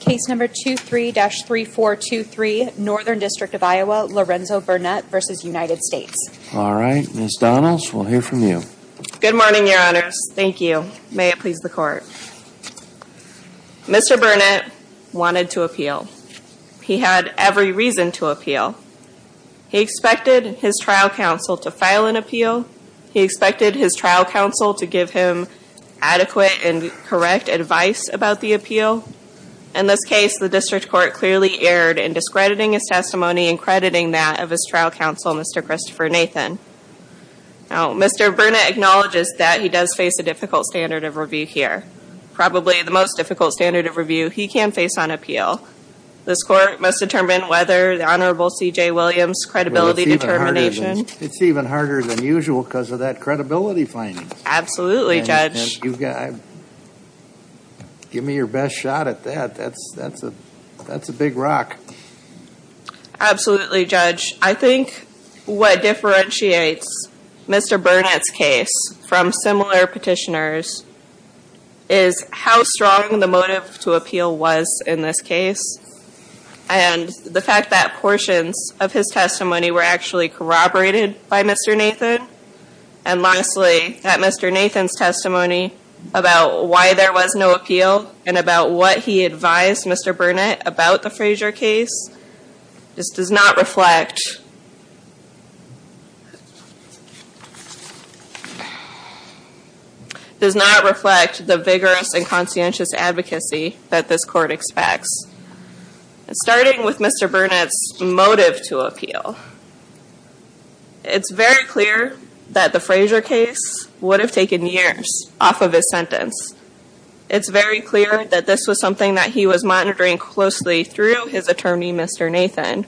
Case number 23-3423, Northern District of Iowa, Larenzo Burnett v. United States. All right, Ms. Donnells, we'll hear from you. Good morning, your honors. Thank you. May it please the court. Mr. Burnett wanted to appeal. He had every reason to appeal. He expected his trial counsel to file an appeal. He expected his trial counsel to give him adequate and correct advice about the appeal. In this case, the district court clearly erred in discrediting his testimony and crediting that of his trial counsel, Mr. Christopher Nathan. Mr. Burnett acknowledges that he does face a difficult standard of review here. Probably the most difficult standard of review he can face on appeal. This court must determine whether the Honorable C.J. Williams' credibility determination It's even harder than usual because of that credibility finding. Absolutely, Judge. Give me your best shot at that. That's a big rock. Absolutely, Judge. I think what differentiates Mr. Burnett's case from similar petitioners is how strong the motive to appeal was in this case. And the fact that portions of his testimony were actually corroborated by Mr. Nathan. And lastly, that Mr. Nathan's testimony about why there was no appeal and about what he advised Mr. Burnett about the Frazier case does not reflect the vigorous and conscientious advocacy that this court expects. Starting with Mr. Burnett's motive to appeal. It's very clear that the Frazier case would have taken years off of his sentence. It's very clear that this was something that he was monitoring closely through his attorney, Mr. Nathan.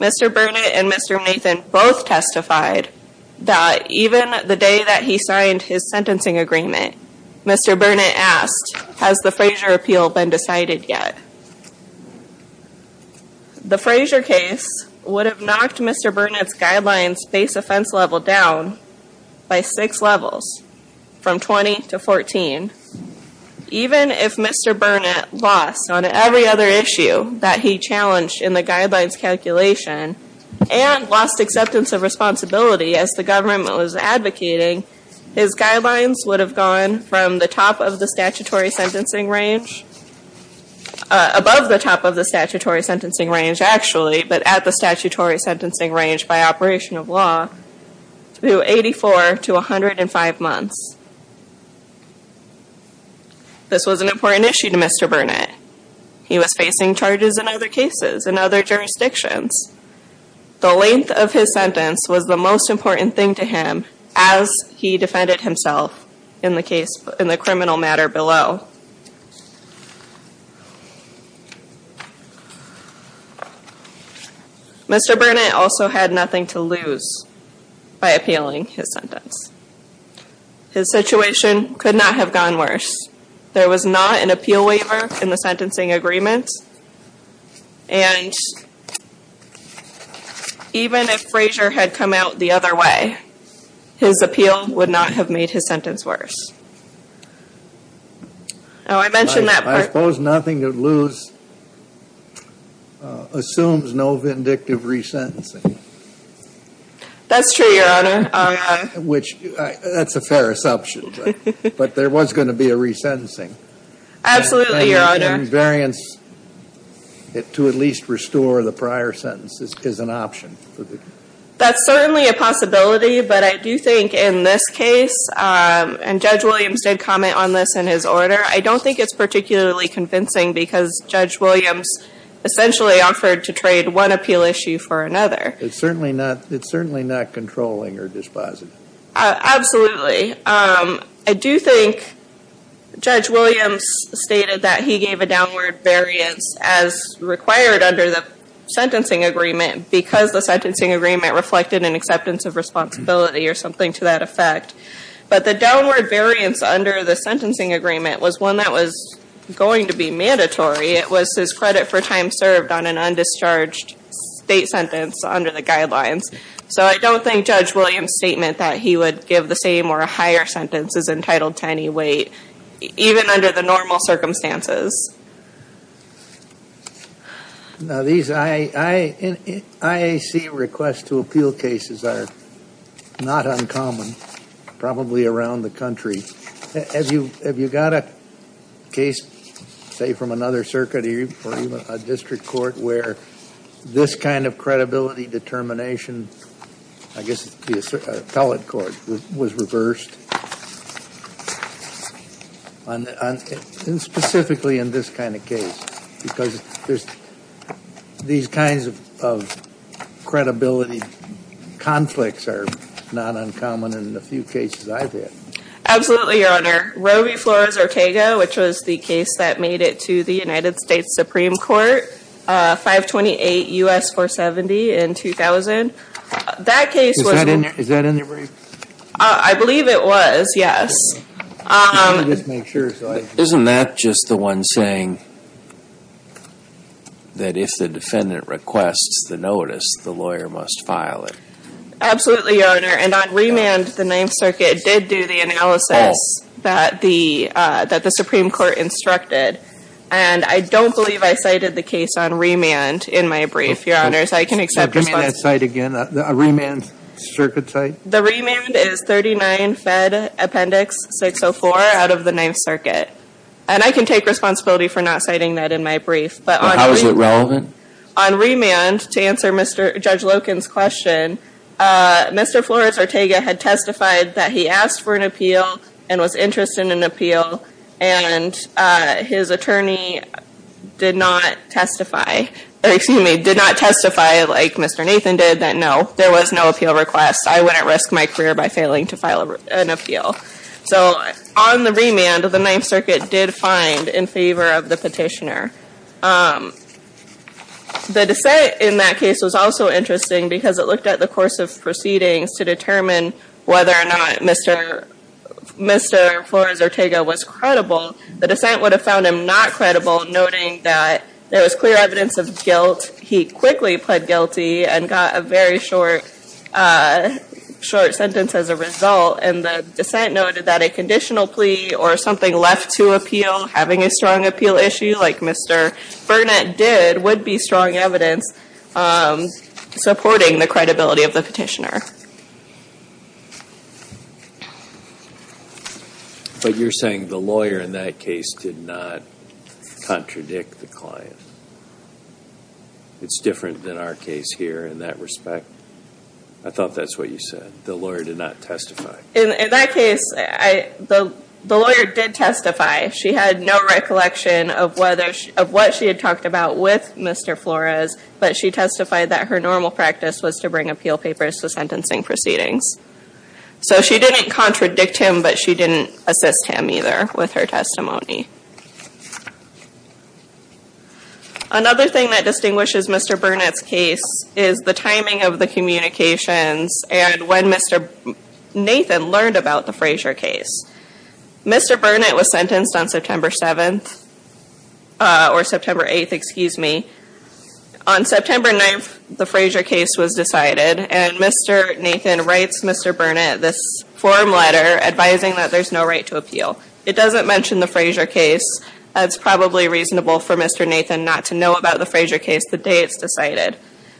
Mr. Burnett and Mr. Nathan both testified that even the day that he signed his sentencing agreement, Mr. Burnett asked, has the Frazier appeal been decided yet? The Frazier case would have knocked Mr. Burnett's guidelines base offense level down by six levels from 20 to 14. Even if Mr. Burnett lost on every other issue that he challenged in the guidelines calculation and lost acceptance of responsibility as the government was advocating, his guidelines would have gone from the top of the statutory sentencing range, above the top of the statutory sentencing range actually, but at the statutory sentencing range by operation of law, to 84 to 105 months. This was an important issue to Mr. Burnett. He was facing charges in other cases, in other jurisdictions. The length of his sentence was the most important thing to him as he defended himself in the criminal matter below. Mr. Burnett also had nothing to lose by appealing his sentence. His situation could not have gone worse. There was not an appeal waiver in the sentencing agreement, and even if Frazier had come out the other way, his appeal would not have made his sentence worse. Now I mentioned that part. I suppose nothing to lose assumes no vindictive resentencing. That's true, Your Honor. That's a fair assumption, but there was going to be a resentencing. Absolutely, Your Honor. And variance to at least restore the prior sentence is an option. That's certainly a possibility, but I do think in this case, and Judge Williams did comment on this in his order, I don't think it's particularly convincing because Judge Williams essentially offered to trade one appeal issue for another. It's certainly not controlling or dispositive. Absolutely. I do think Judge Williams stated that he gave a downward variance as required under the sentencing agreement because the sentencing agreement reflected an acceptance of responsibility or something to that effect. But the downward variance under the sentencing agreement was one that was going to be mandatory. It was his credit for time served on an undischarged state sentence under the guidelines. So I don't think Judge Williams' statement that he would give the same or a higher sentence is entitled to any weight, even under the normal circumstances. Now these IAC requests to appeal cases are not uncommon, probably around the country. Have you got a case, say, from another circuit or even a district court where this kind of credibility determination, I guess the appellate court, was reversed, specifically in this kind of case? Because these kinds of credibility conflicts are not uncommon in the few cases I've had. Absolutely, Your Honor. Roe v. Flores-Ortega, which was the case that made it to the United States Supreme Court, 528 U.S. 470 in 2000. Is that in your brief? I believe it was, yes. Isn't that just the one saying that if the defendant requests the notice, the lawyer must file it? Absolutely, Your Honor. And on remand, the Ninth Circuit did do the analysis that the Supreme Court instructed. And I don't believe I cited the case on remand in my brief, Your Honors. I can accept responsibility. Remand circuit site? The remand is 39 Fed Appendix 604 out of the Ninth Circuit. And I can take responsibility for not citing that in my brief. But how is it relevant? On remand, to answer Judge Loken's question, Mr. Flores-Ortega had testified that he asked for an appeal and was interested in an appeal. And his attorney did not testify, like Mr. Nathan did, that no, there was no appeal request. I wouldn't risk my career by failing to file an appeal. So on the remand, the Ninth Circuit did find in favor of the petitioner. The dissent in that case was also interesting because it looked at the course of proceedings to determine whether or not Mr. Flores-Ortega was credible. The dissent would have found him not credible, noting that there was clear evidence of guilt. He quickly pled guilty and got a very short sentence as a result. And the dissent noted that a conditional plea or something left to appeal, having a strong appeal issue like Mr. Burnett did, would be strong evidence supporting the credibility of the petitioner. But you're saying the lawyer in that case did not contradict the client? It's different than our case here in that respect? I thought that's what you said, the lawyer did not testify. In that case, the lawyer did testify. She had no recollection of what she had talked about with Mr. Flores, but she testified that her normal practice was to bring appeal papers to sentencing proceedings. So she didn't contradict him, but she didn't assist him either with her testimony. Another thing that distinguishes Mr. Burnett's case is the timing of the communications and when Mr. Nathan learned about the Frazier case. Mr. Burnett was sentenced on September 7th, or September 8th, excuse me. On September 9th, the Frazier case was decided, and Mr. Nathan writes Mr. Burnett this form letter advising that there's no right to appeal. It doesn't mention the Frazier case. It's probably reasonable for Mr. Nathan not to know about the Frazier case the day it's decided.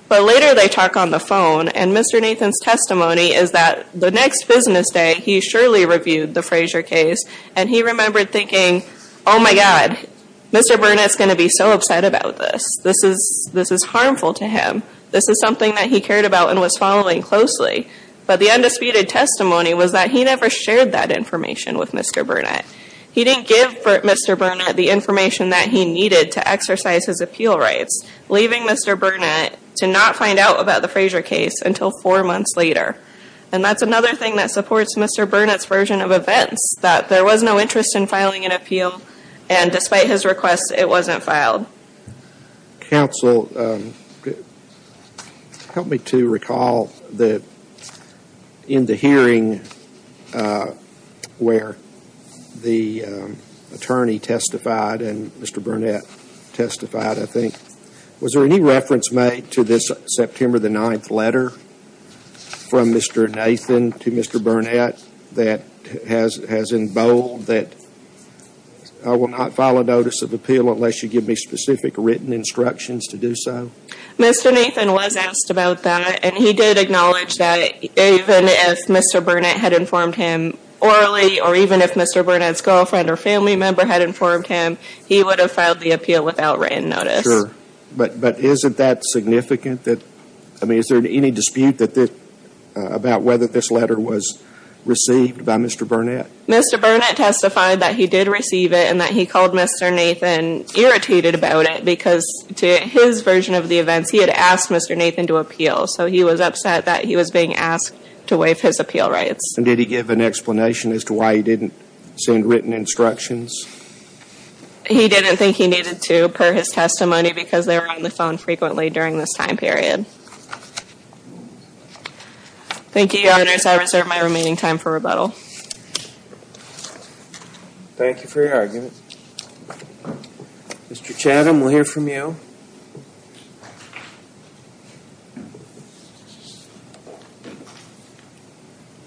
But later they talk on the phone, and Mr. Nathan's testimony is that the next business day, he surely reviewed the Frazier case, and he remembered thinking, oh my God, Mr. Burnett's going to be so upset about this. This is harmful to him. This is something that he cared about and was following closely. But the undisputed testimony was that he never shared that information with Mr. Burnett. He didn't give Mr. Burnett the information that he needed to exercise his appeal rights, leaving Mr. Burnett to not find out about the Frazier case until four months later. And that's another thing that supports Mr. Burnett's version of events, that there was no interest in filing an appeal, and despite his request, it wasn't filed. Counsel, help me to recall that in the hearing where the attorney testified and Mr. Burnett testified, I think, was there any reference made to this September the 9th letter from Mr. Nathan to Mr. Burnett that has in bold that I will not file a notice of appeal unless you give me specific written instructions to do so? Mr. Nathan was asked about that, and he did acknowledge that even if Mr. Burnett had informed him orally or even if Mr. Burnett's girlfriend or family member had informed him, he would have filed the appeal without written notice. But isn't that significant? I mean, is there any dispute about whether this letter was received by Mr. Burnett? Mr. Burnett testified that he did receive it and that he called Mr. Nathan irritated about it because to his version of the events, he had asked Mr. Nathan to appeal, so he was upset that he was being asked to waive his appeal rights. And did he give an explanation as to why he didn't send written instructions? He didn't think he needed to, per his testimony, because they were on the phone frequently during this time period. Thank you, Your Honors. I reserve my remaining time for rebuttal. Thank you for your argument. Mr. Chatham, we'll hear from you.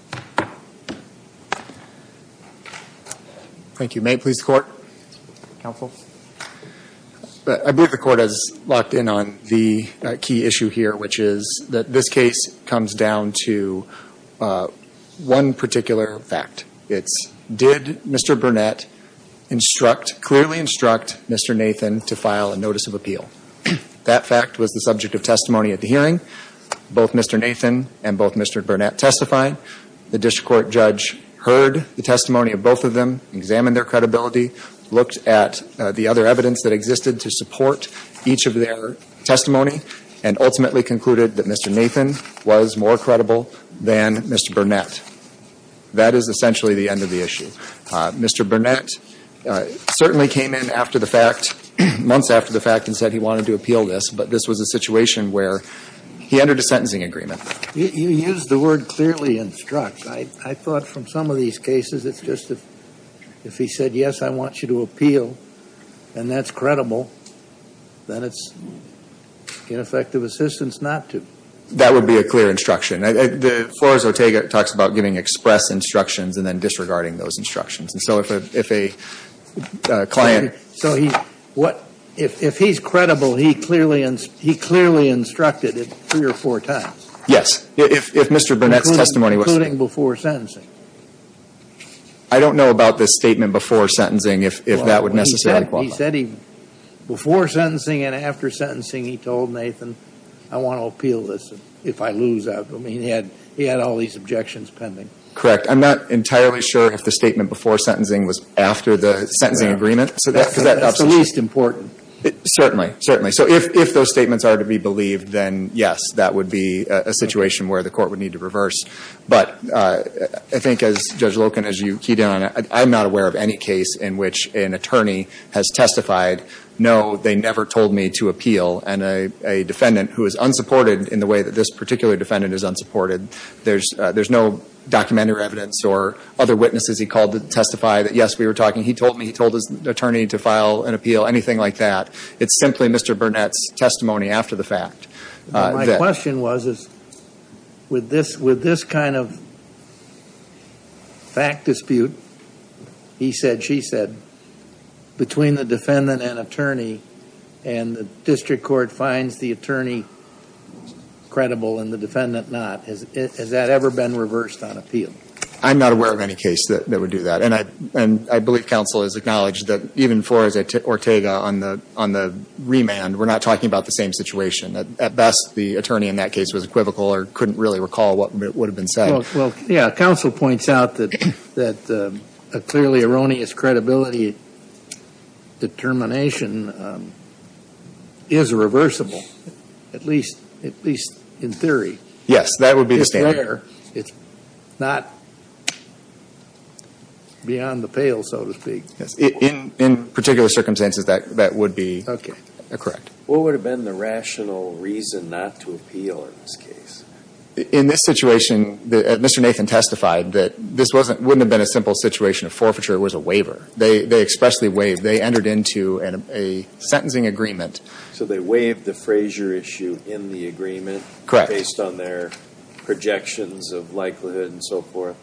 Thank you. Thank you. May it please the Court? Counsel. I believe the Court has locked in on the key issue here, which is that this case comes down to one particular fact. It's did Mr. Burnett instruct, clearly instruct Mr. Nathan to file a notice of appeal? That fact was the subject of testimony at the hearing. Both Mr. Nathan and both Mr. Burnett testified. The district court judge heard the testimony of both of them, examined their credibility, looked at the other evidence that existed to support each of their testimony, and ultimately concluded that Mr. Nathan was more credible than Mr. Burnett. That is essentially the end of the issue. Mr. Burnett certainly came in after the fact, months after the fact, and said he wanted to appeal this, but this was a situation where he entered a sentencing agreement. You used the word clearly instruct. I thought from some of these cases it's just if he said, yes, I want you to appeal and that's credible, then it's ineffective assistance not to. That would be a clear instruction. Flores-Otega talks about giving express instructions and then disregarding those instructions. And so if a client. So if he's credible, he clearly instructed it three or four times? Yes. If Mr. Burnett's testimony was. Including before sentencing? I don't know about the statement before sentencing, if that would necessarily qualify. Before sentencing and after sentencing he told Nathan, I want to appeal this if I lose out. He had all these objections pending. Correct. I'm not entirely sure if the statement before sentencing was after the sentencing agreement. That's the least important. Certainly. So if those statements are to be believed, then yes, that would be a situation where the court would need to reverse. But I think as Judge Loken, as you keyed in on it, I'm not aware of any case in which an attorney has testified, no, they never told me to appeal. And a defendant who is unsupported in the way that this particular defendant is unsupported, there's no documentary evidence or other witnesses he called to testify that, yes, we were talking. He told me, he told his attorney to file an appeal, anything like that. It's simply Mr. Burnett's testimony after the fact. My question was, with this kind of fact dispute, he said, she said, between the defendant and attorney and the district court finds the attorney credible and the defendant not, has that ever been reversed on appeal? I'm not aware of any case that would do that. And I believe counsel has acknowledged that even for Ortega on the remand, we're not talking about the same situation. At best, the attorney in that case was equivocal or couldn't really recall what would have been said. Well, yeah, counsel points out that a clearly erroneous credibility determination is reversible, at least in theory. Yes, that would be the standard. It's not beyond the pale, so to speak. In particular circumstances, that would be correct. What would have been the rational reason not to appeal in this case? In this situation, Mr. Nathan testified that this wouldn't have been a simple situation of forfeiture. It was a waiver. They expressly waived. They entered into a sentencing agreement. So they waived the Frazier issue in the agreement based on their projections of likelihood and so forth?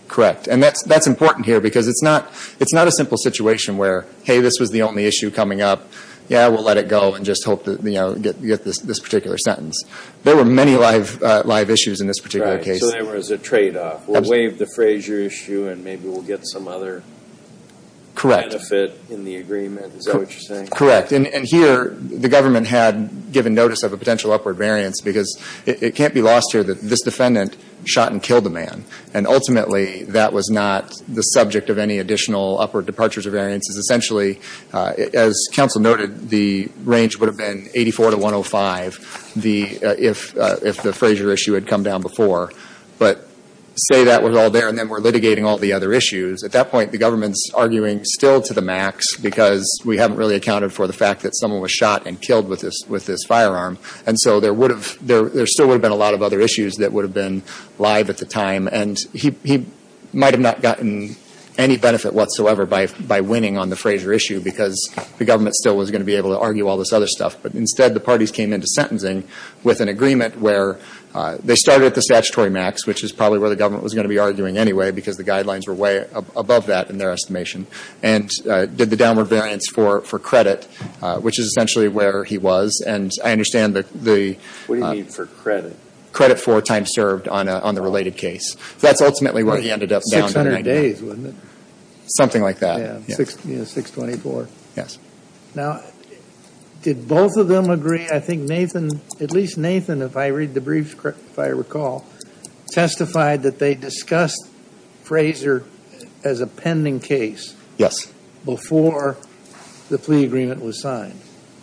And that's important here because it's not a simple situation where, hey, this was the only issue coming up. Yeah, we'll let it go and just hope to get this particular sentence. There were many live issues in this particular case. So there was a tradeoff. We'll waive the Frazier issue and maybe we'll get some other benefit in the agreement. Is that what you're saying? Correct. And here the government had given notice of a potential upward variance because it can't be lost here that this defendant shot and killed the man. And ultimately that was not the subject of any additional upward departures or variances. Essentially, as counsel noted, the range would have been 84 to 105 if the Frazier issue had come down before. But say that was all there and then we're litigating all the other issues. At that point, the government's arguing still to the max because we haven't really accounted for the fact that someone was shot and killed with this firearm. And so there still would have been a lot of other issues that would have been live at the time. And he might have not gotten any benefit whatsoever by winning on the Frazier issue because the government still was going to be able to argue all this other stuff. But instead, the parties came into sentencing with an agreement where they started at the statutory max, which is probably where the government was going to be arguing anyway because the guidelines were way above that in their estimation, and did the downward variance for credit, which is essentially where he was. And I understand the – What do you mean for credit? Credit for time served on the related case. That's ultimately where he ended up down to 90. 600 days, wasn't it? Something like that. Yeah, 624. Yes. Now, did both of them agree? At least Nathan, if I read the brief, if I recall, testified that they discussed Frazier as a pending case before the plea agreement was signed.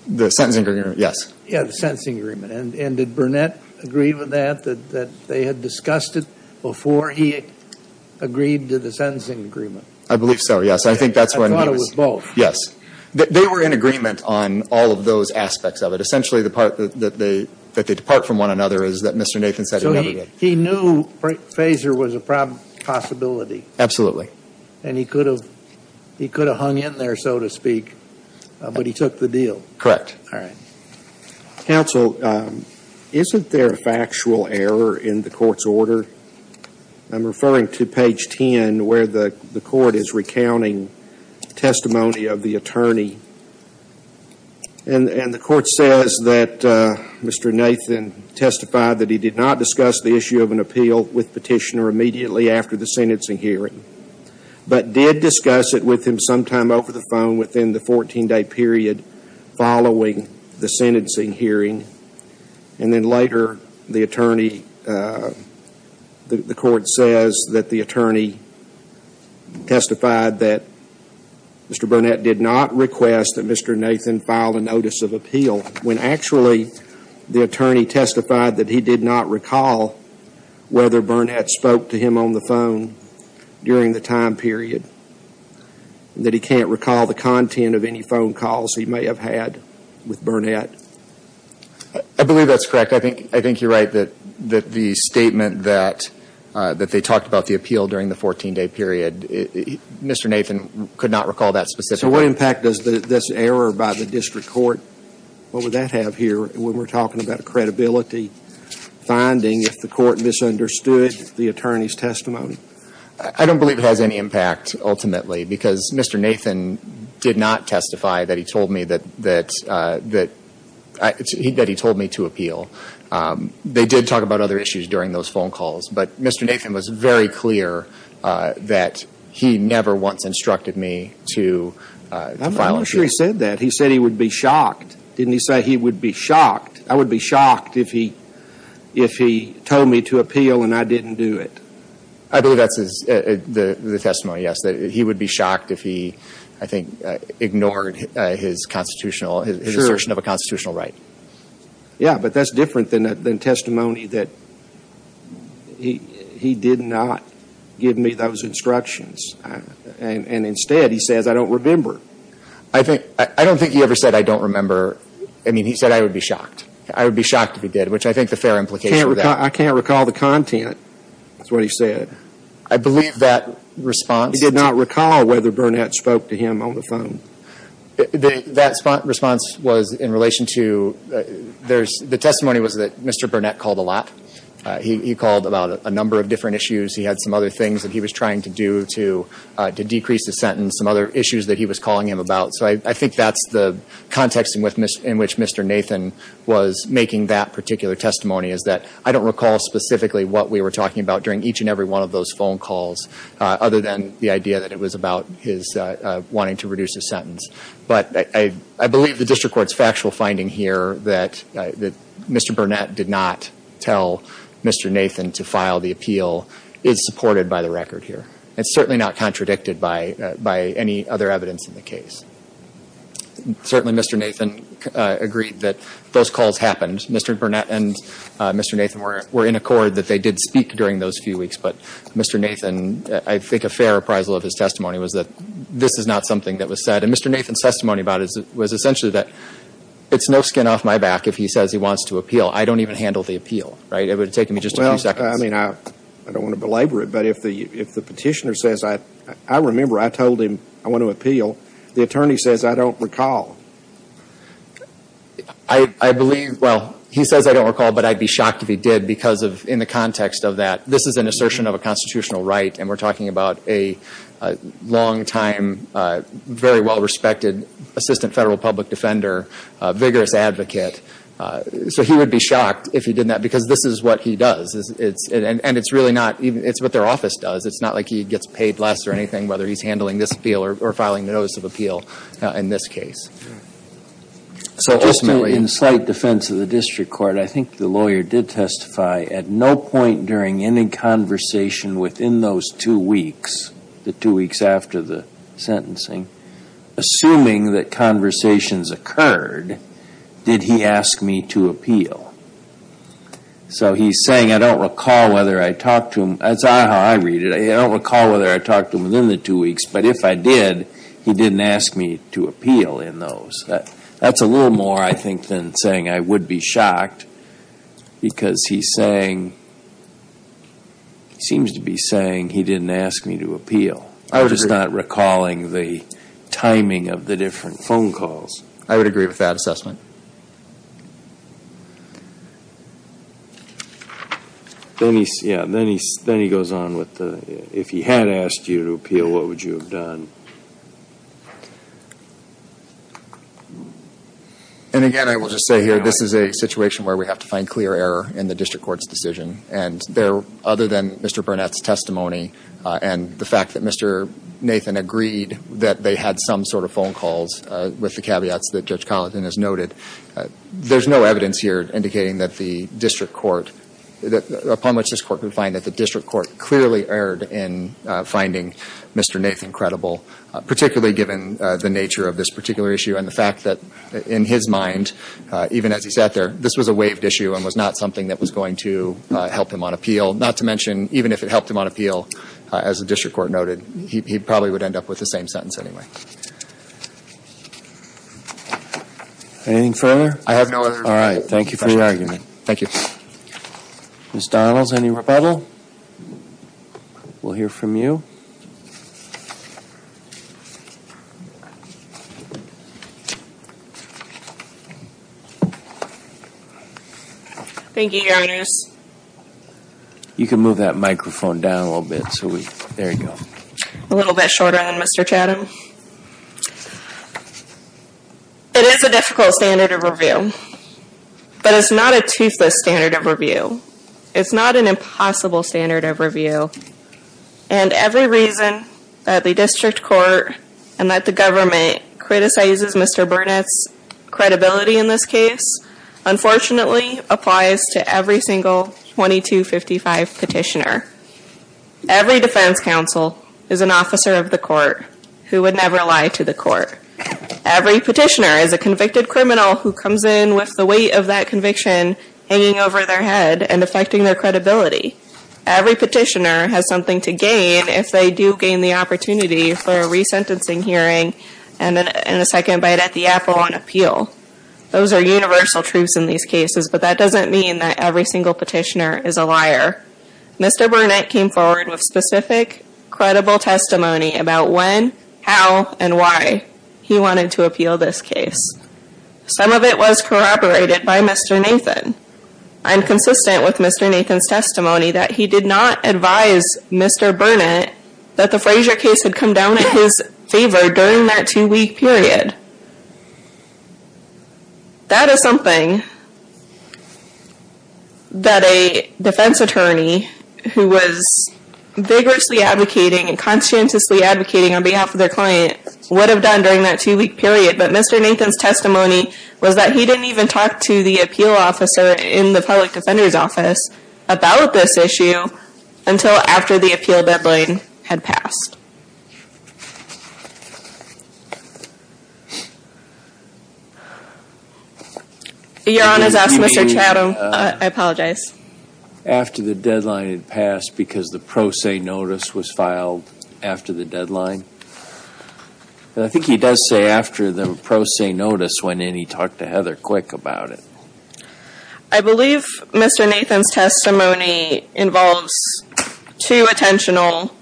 The sentencing agreement, yes. Yeah, the sentencing agreement. And did Burnett agree with that, that they had discussed it before he agreed to the sentencing agreement? I believe so, yes. I thought it was both. They were in agreement on all of those aspects of it. Essentially, the part that they depart from one another is that Mr. Nathan said he never did. So he knew Frazier was a possibility. Absolutely. And he could have hung in there, so to speak, but he took the deal. Correct. All right. Counsel, isn't there a factual error in the court's order? I'm referring to page 10 where the court is recounting testimony of the attorney. And the court says that Mr. Nathan testified that he did not discuss the issue of an appeal with Petitioner immediately after the sentencing hearing, but did discuss it with him sometime over the phone within the 14-day period following the sentencing hearing. And then later the attorney, the court says that the attorney testified that Mr. Burnett did not request that Mr. Nathan file a notice of appeal when actually the attorney testified that he did not recall whether Burnett spoke to him on the phone during the time period, that he can't recall the content of any phone calls he may have had with Burnett. I believe that's correct. I think you're right that the statement that they talked about the appeal during the 14-day period, Mr. Nathan could not recall that specifically. So what impact does this error by the district court, what would that have here when we're talking about a credibility finding if the court misunderstood the attorney's testimony? I don't believe it has any impact ultimately because Mr. Nathan did not testify that he told me that he told me to appeal. They did talk about other issues during those phone calls, but Mr. Nathan was very clear that he never once instructed me to file a case. I'm not sure he said that. He said he would be shocked. Didn't he say he would be shocked? I would be shocked if he told me to appeal and I didn't do it. I believe that's the testimony, yes, that he would be shocked if he, I think, ignored his constitutional, his assertion of a constitutional right. Yeah, but that's different than testimony that he did not give me those instructions. And instead he says I don't remember. I don't think he ever said I don't remember. I mean, he said I would be shocked. I would be shocked if he did, which I think the fair implication of that. I can't recall the content. That's what he said. I believe that response. He did not recall whether Burnett spoke to him on the phone. That response was in relation to, the testimony was that Mr. Burnett called a lot. He called about a number of different issues. He had some other things that he was trying to do to decrease the sentence, some other issues that he was calling him about. So I think that's the context in which Mr. Nathan was making that particular testimony, is that I don't recall specifically what we were talking about during each and every one of those phone calls, other than the idea that it was about his wanting to reduce his sentence. But I believe the district court's factual finding here that Mr. Burnett did not tell Mr. Nathan to file the appeal is supported by the record here. It's certainly not contradicted by any other evidence in the case. Certainly Mr. Nathan agreed that those calls happened. Mr. Burnett and Mr. Nathan were in accord that they did speak during those few weeks. But Mr. Nathan, I think a fair appraisal of his testimony was that this is not something that was said. And Mr. Nathan's testimony about it was essentially that it's no skin off my back if he says he wants to appeal. I don't even handle the appeal. Right? It would have taken me just a few seconds. I mean, I don't want to belabor it, but if the petitioner says, I remember I told him I want to appeal. The attorney says I don't recall. I believe, well, he says I don't recall, but I'd be shocked if he did because in the context of that, this is an assertion of a constitutional right, and we're talking about a long-time, very well-respected assistant federal public defender, vigorous advocate. So he would be shocked if he did that because this is what he does. And it's really not even, it's what their office does. It's not like he gets paid less or anything, whether he's handling this appeal or filing the notice of appeal in this case. So ultimately. In slight defense of the district court, I think the lawyer did testify at no point during any conversation within those two weeks, the two weeks after the sentencing. Assuming that conversations occurred, did he ask me to appeal? So he's saying I don't recall whether I talked to him. That's not how I read it. I don't recall whether I talked to him within the two weeks, but if I did, he didn't ask me to appeal in those. That's a little more, I think, than saying I would be shocked because he's saying, he seems to be saying he didn't ask me to appeal. I'm just not recalling the timing of the different phone calls. I would agree with that assessment. Then he goes on with the, if he had asked you to appeal, what would you have done? And again, I will just say here, this is a situation where we have to find clear error in the district court's decision. And there, other than Mr. Burnett's testimony and the fact that Mr. Nathan agreed that they had some sort of phone calls, with the caveats that Judge Collinson has noted, there's no evidence here indicating that the district court, upon which this court could find that the district court clearly erred in finding Mr. Nathan credible. Particularly given the nature of this particular issue and the fact that, in his mind, even as he sat there, this was a waived issue and was not something that was going to help him on appeal. Not to mention, even if it helped him on appeal, as the district court noted, he probably would end up with the same sentence anyway. Anything further? I have no other questions. All right. Thank you for your argument. Thank you. Ms. Donalds, any rebuttal? We'll hear from you. Thank you, Your Honors. You can move that microphone down a little bit. There you go. A little bit shorter than Mr. Chatham. It is a difficult standard of review. But it's not a toothless standard of review. It's not an impossible standard of review. And every reason that the district court and that the government criticizes Mr. Burnett's credibility in this case, unfortunately applies to every single 2255 petitioner. Every defense counsel is an officer of the court who would never lie to the court. Every petitioner is a convicted criminal who comes in with the weight of that conviction hanging over their head and affecting their credibility. Every petitioner has something to gain if they do gain the opportunity for a resentencing hearing and a second bite at the apple on appeal. Those are universal truths in these cases, but that doesn't mean that every single petitioner is a liar. Mr. Burnett came forward with specific, credible testimony about when, how, and why he wanted to appeal this case. Some of it was corroborated by Mr. Nathan. I'm consistent with Mr. Nathan's testimony that he did not advise Mr. Burnett that the Frazier case had come down in his favor during that two-week period. That is something that a defense attorney who was vigorously advocating and conscientiously advocating on behalf of their client would have done during that two-week period. But Mr. Nathan's testimony was that he didn't even talk to the appeal officer in the public defender's office about this issue until after the appeal deadline had passed. Your Honor has asked Mr. Chatham. I apologize. After the deadline had passed because the pro se notice was filed after the deadline? I think he does say after the pro se notice went in he talked to Heather Quick about it. I believe Mr. Nathan's testimony involves two potential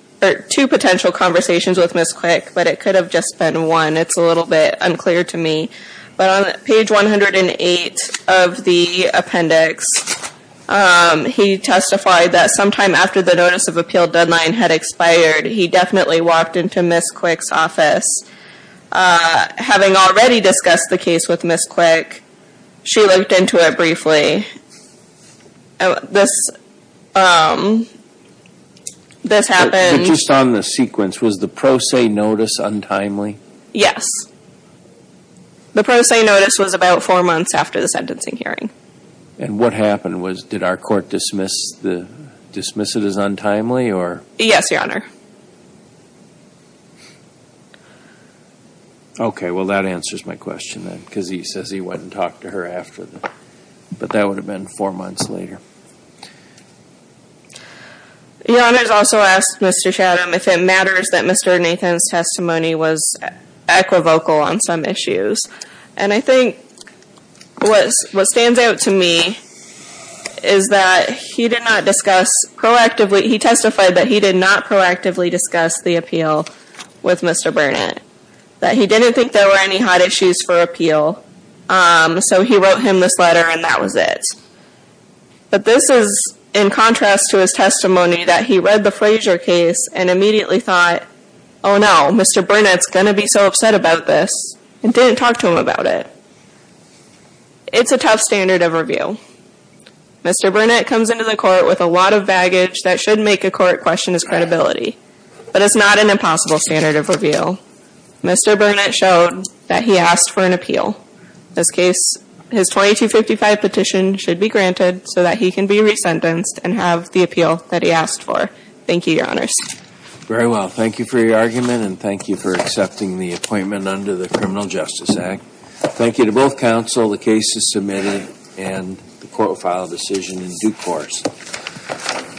conversations with Ms. Quick, but it could have just been one. It's a little bit unclear to me. But on page 108 of the appendix, he testified that sometime after the notice of appeal deadline had expired, he definitely walked into Ms. Quick's office. Having already discussed the case with Ms. Quick, she looked into it briefly. This happened... Just on the sequence, was the pro se notice untimely? Yes. The pro se notice was about four months after the sentencing hearing. And what happened? Did our court dismiss it as untimely? Yes, Your Honor. Okay, well that answers my question then, because he says he went and talked to her after. But that would have been four months later. Your Honor has also asked Mr. Chatham if it matters that Mr. Nathan's testimony was equivocal on some issues. And I think what stands out to me is that he did not discuss proactively... He testified that he did not proactively discuss the appeal with Mr. Burnett. That he didn't think there were any hot issues for appeal, so he wrote him this letter and that was it. But this is in contrast to his testimony that he read the Frazier case and immediately thought, Oh no, Mr. Burnett's going to be so upset about this, and didn't talk to him about it. It's a tough standard of review. Mr. Burnett comes into the court with a lot of baggage that should make a court question his credibility. But it's not an impossible standard of review. Mr. Burnett showed that he asked for an appeal. In this case, his 2255 petition should be granted so that he can be resentenced and have the appeal that he asked for. Thank you, Your Honors. Very well, thank you for your argument and thank you for accepting the appointment under the Criminal Justice Act. Thank you to both counsel. The case is submitted and the court will file a decision in due course.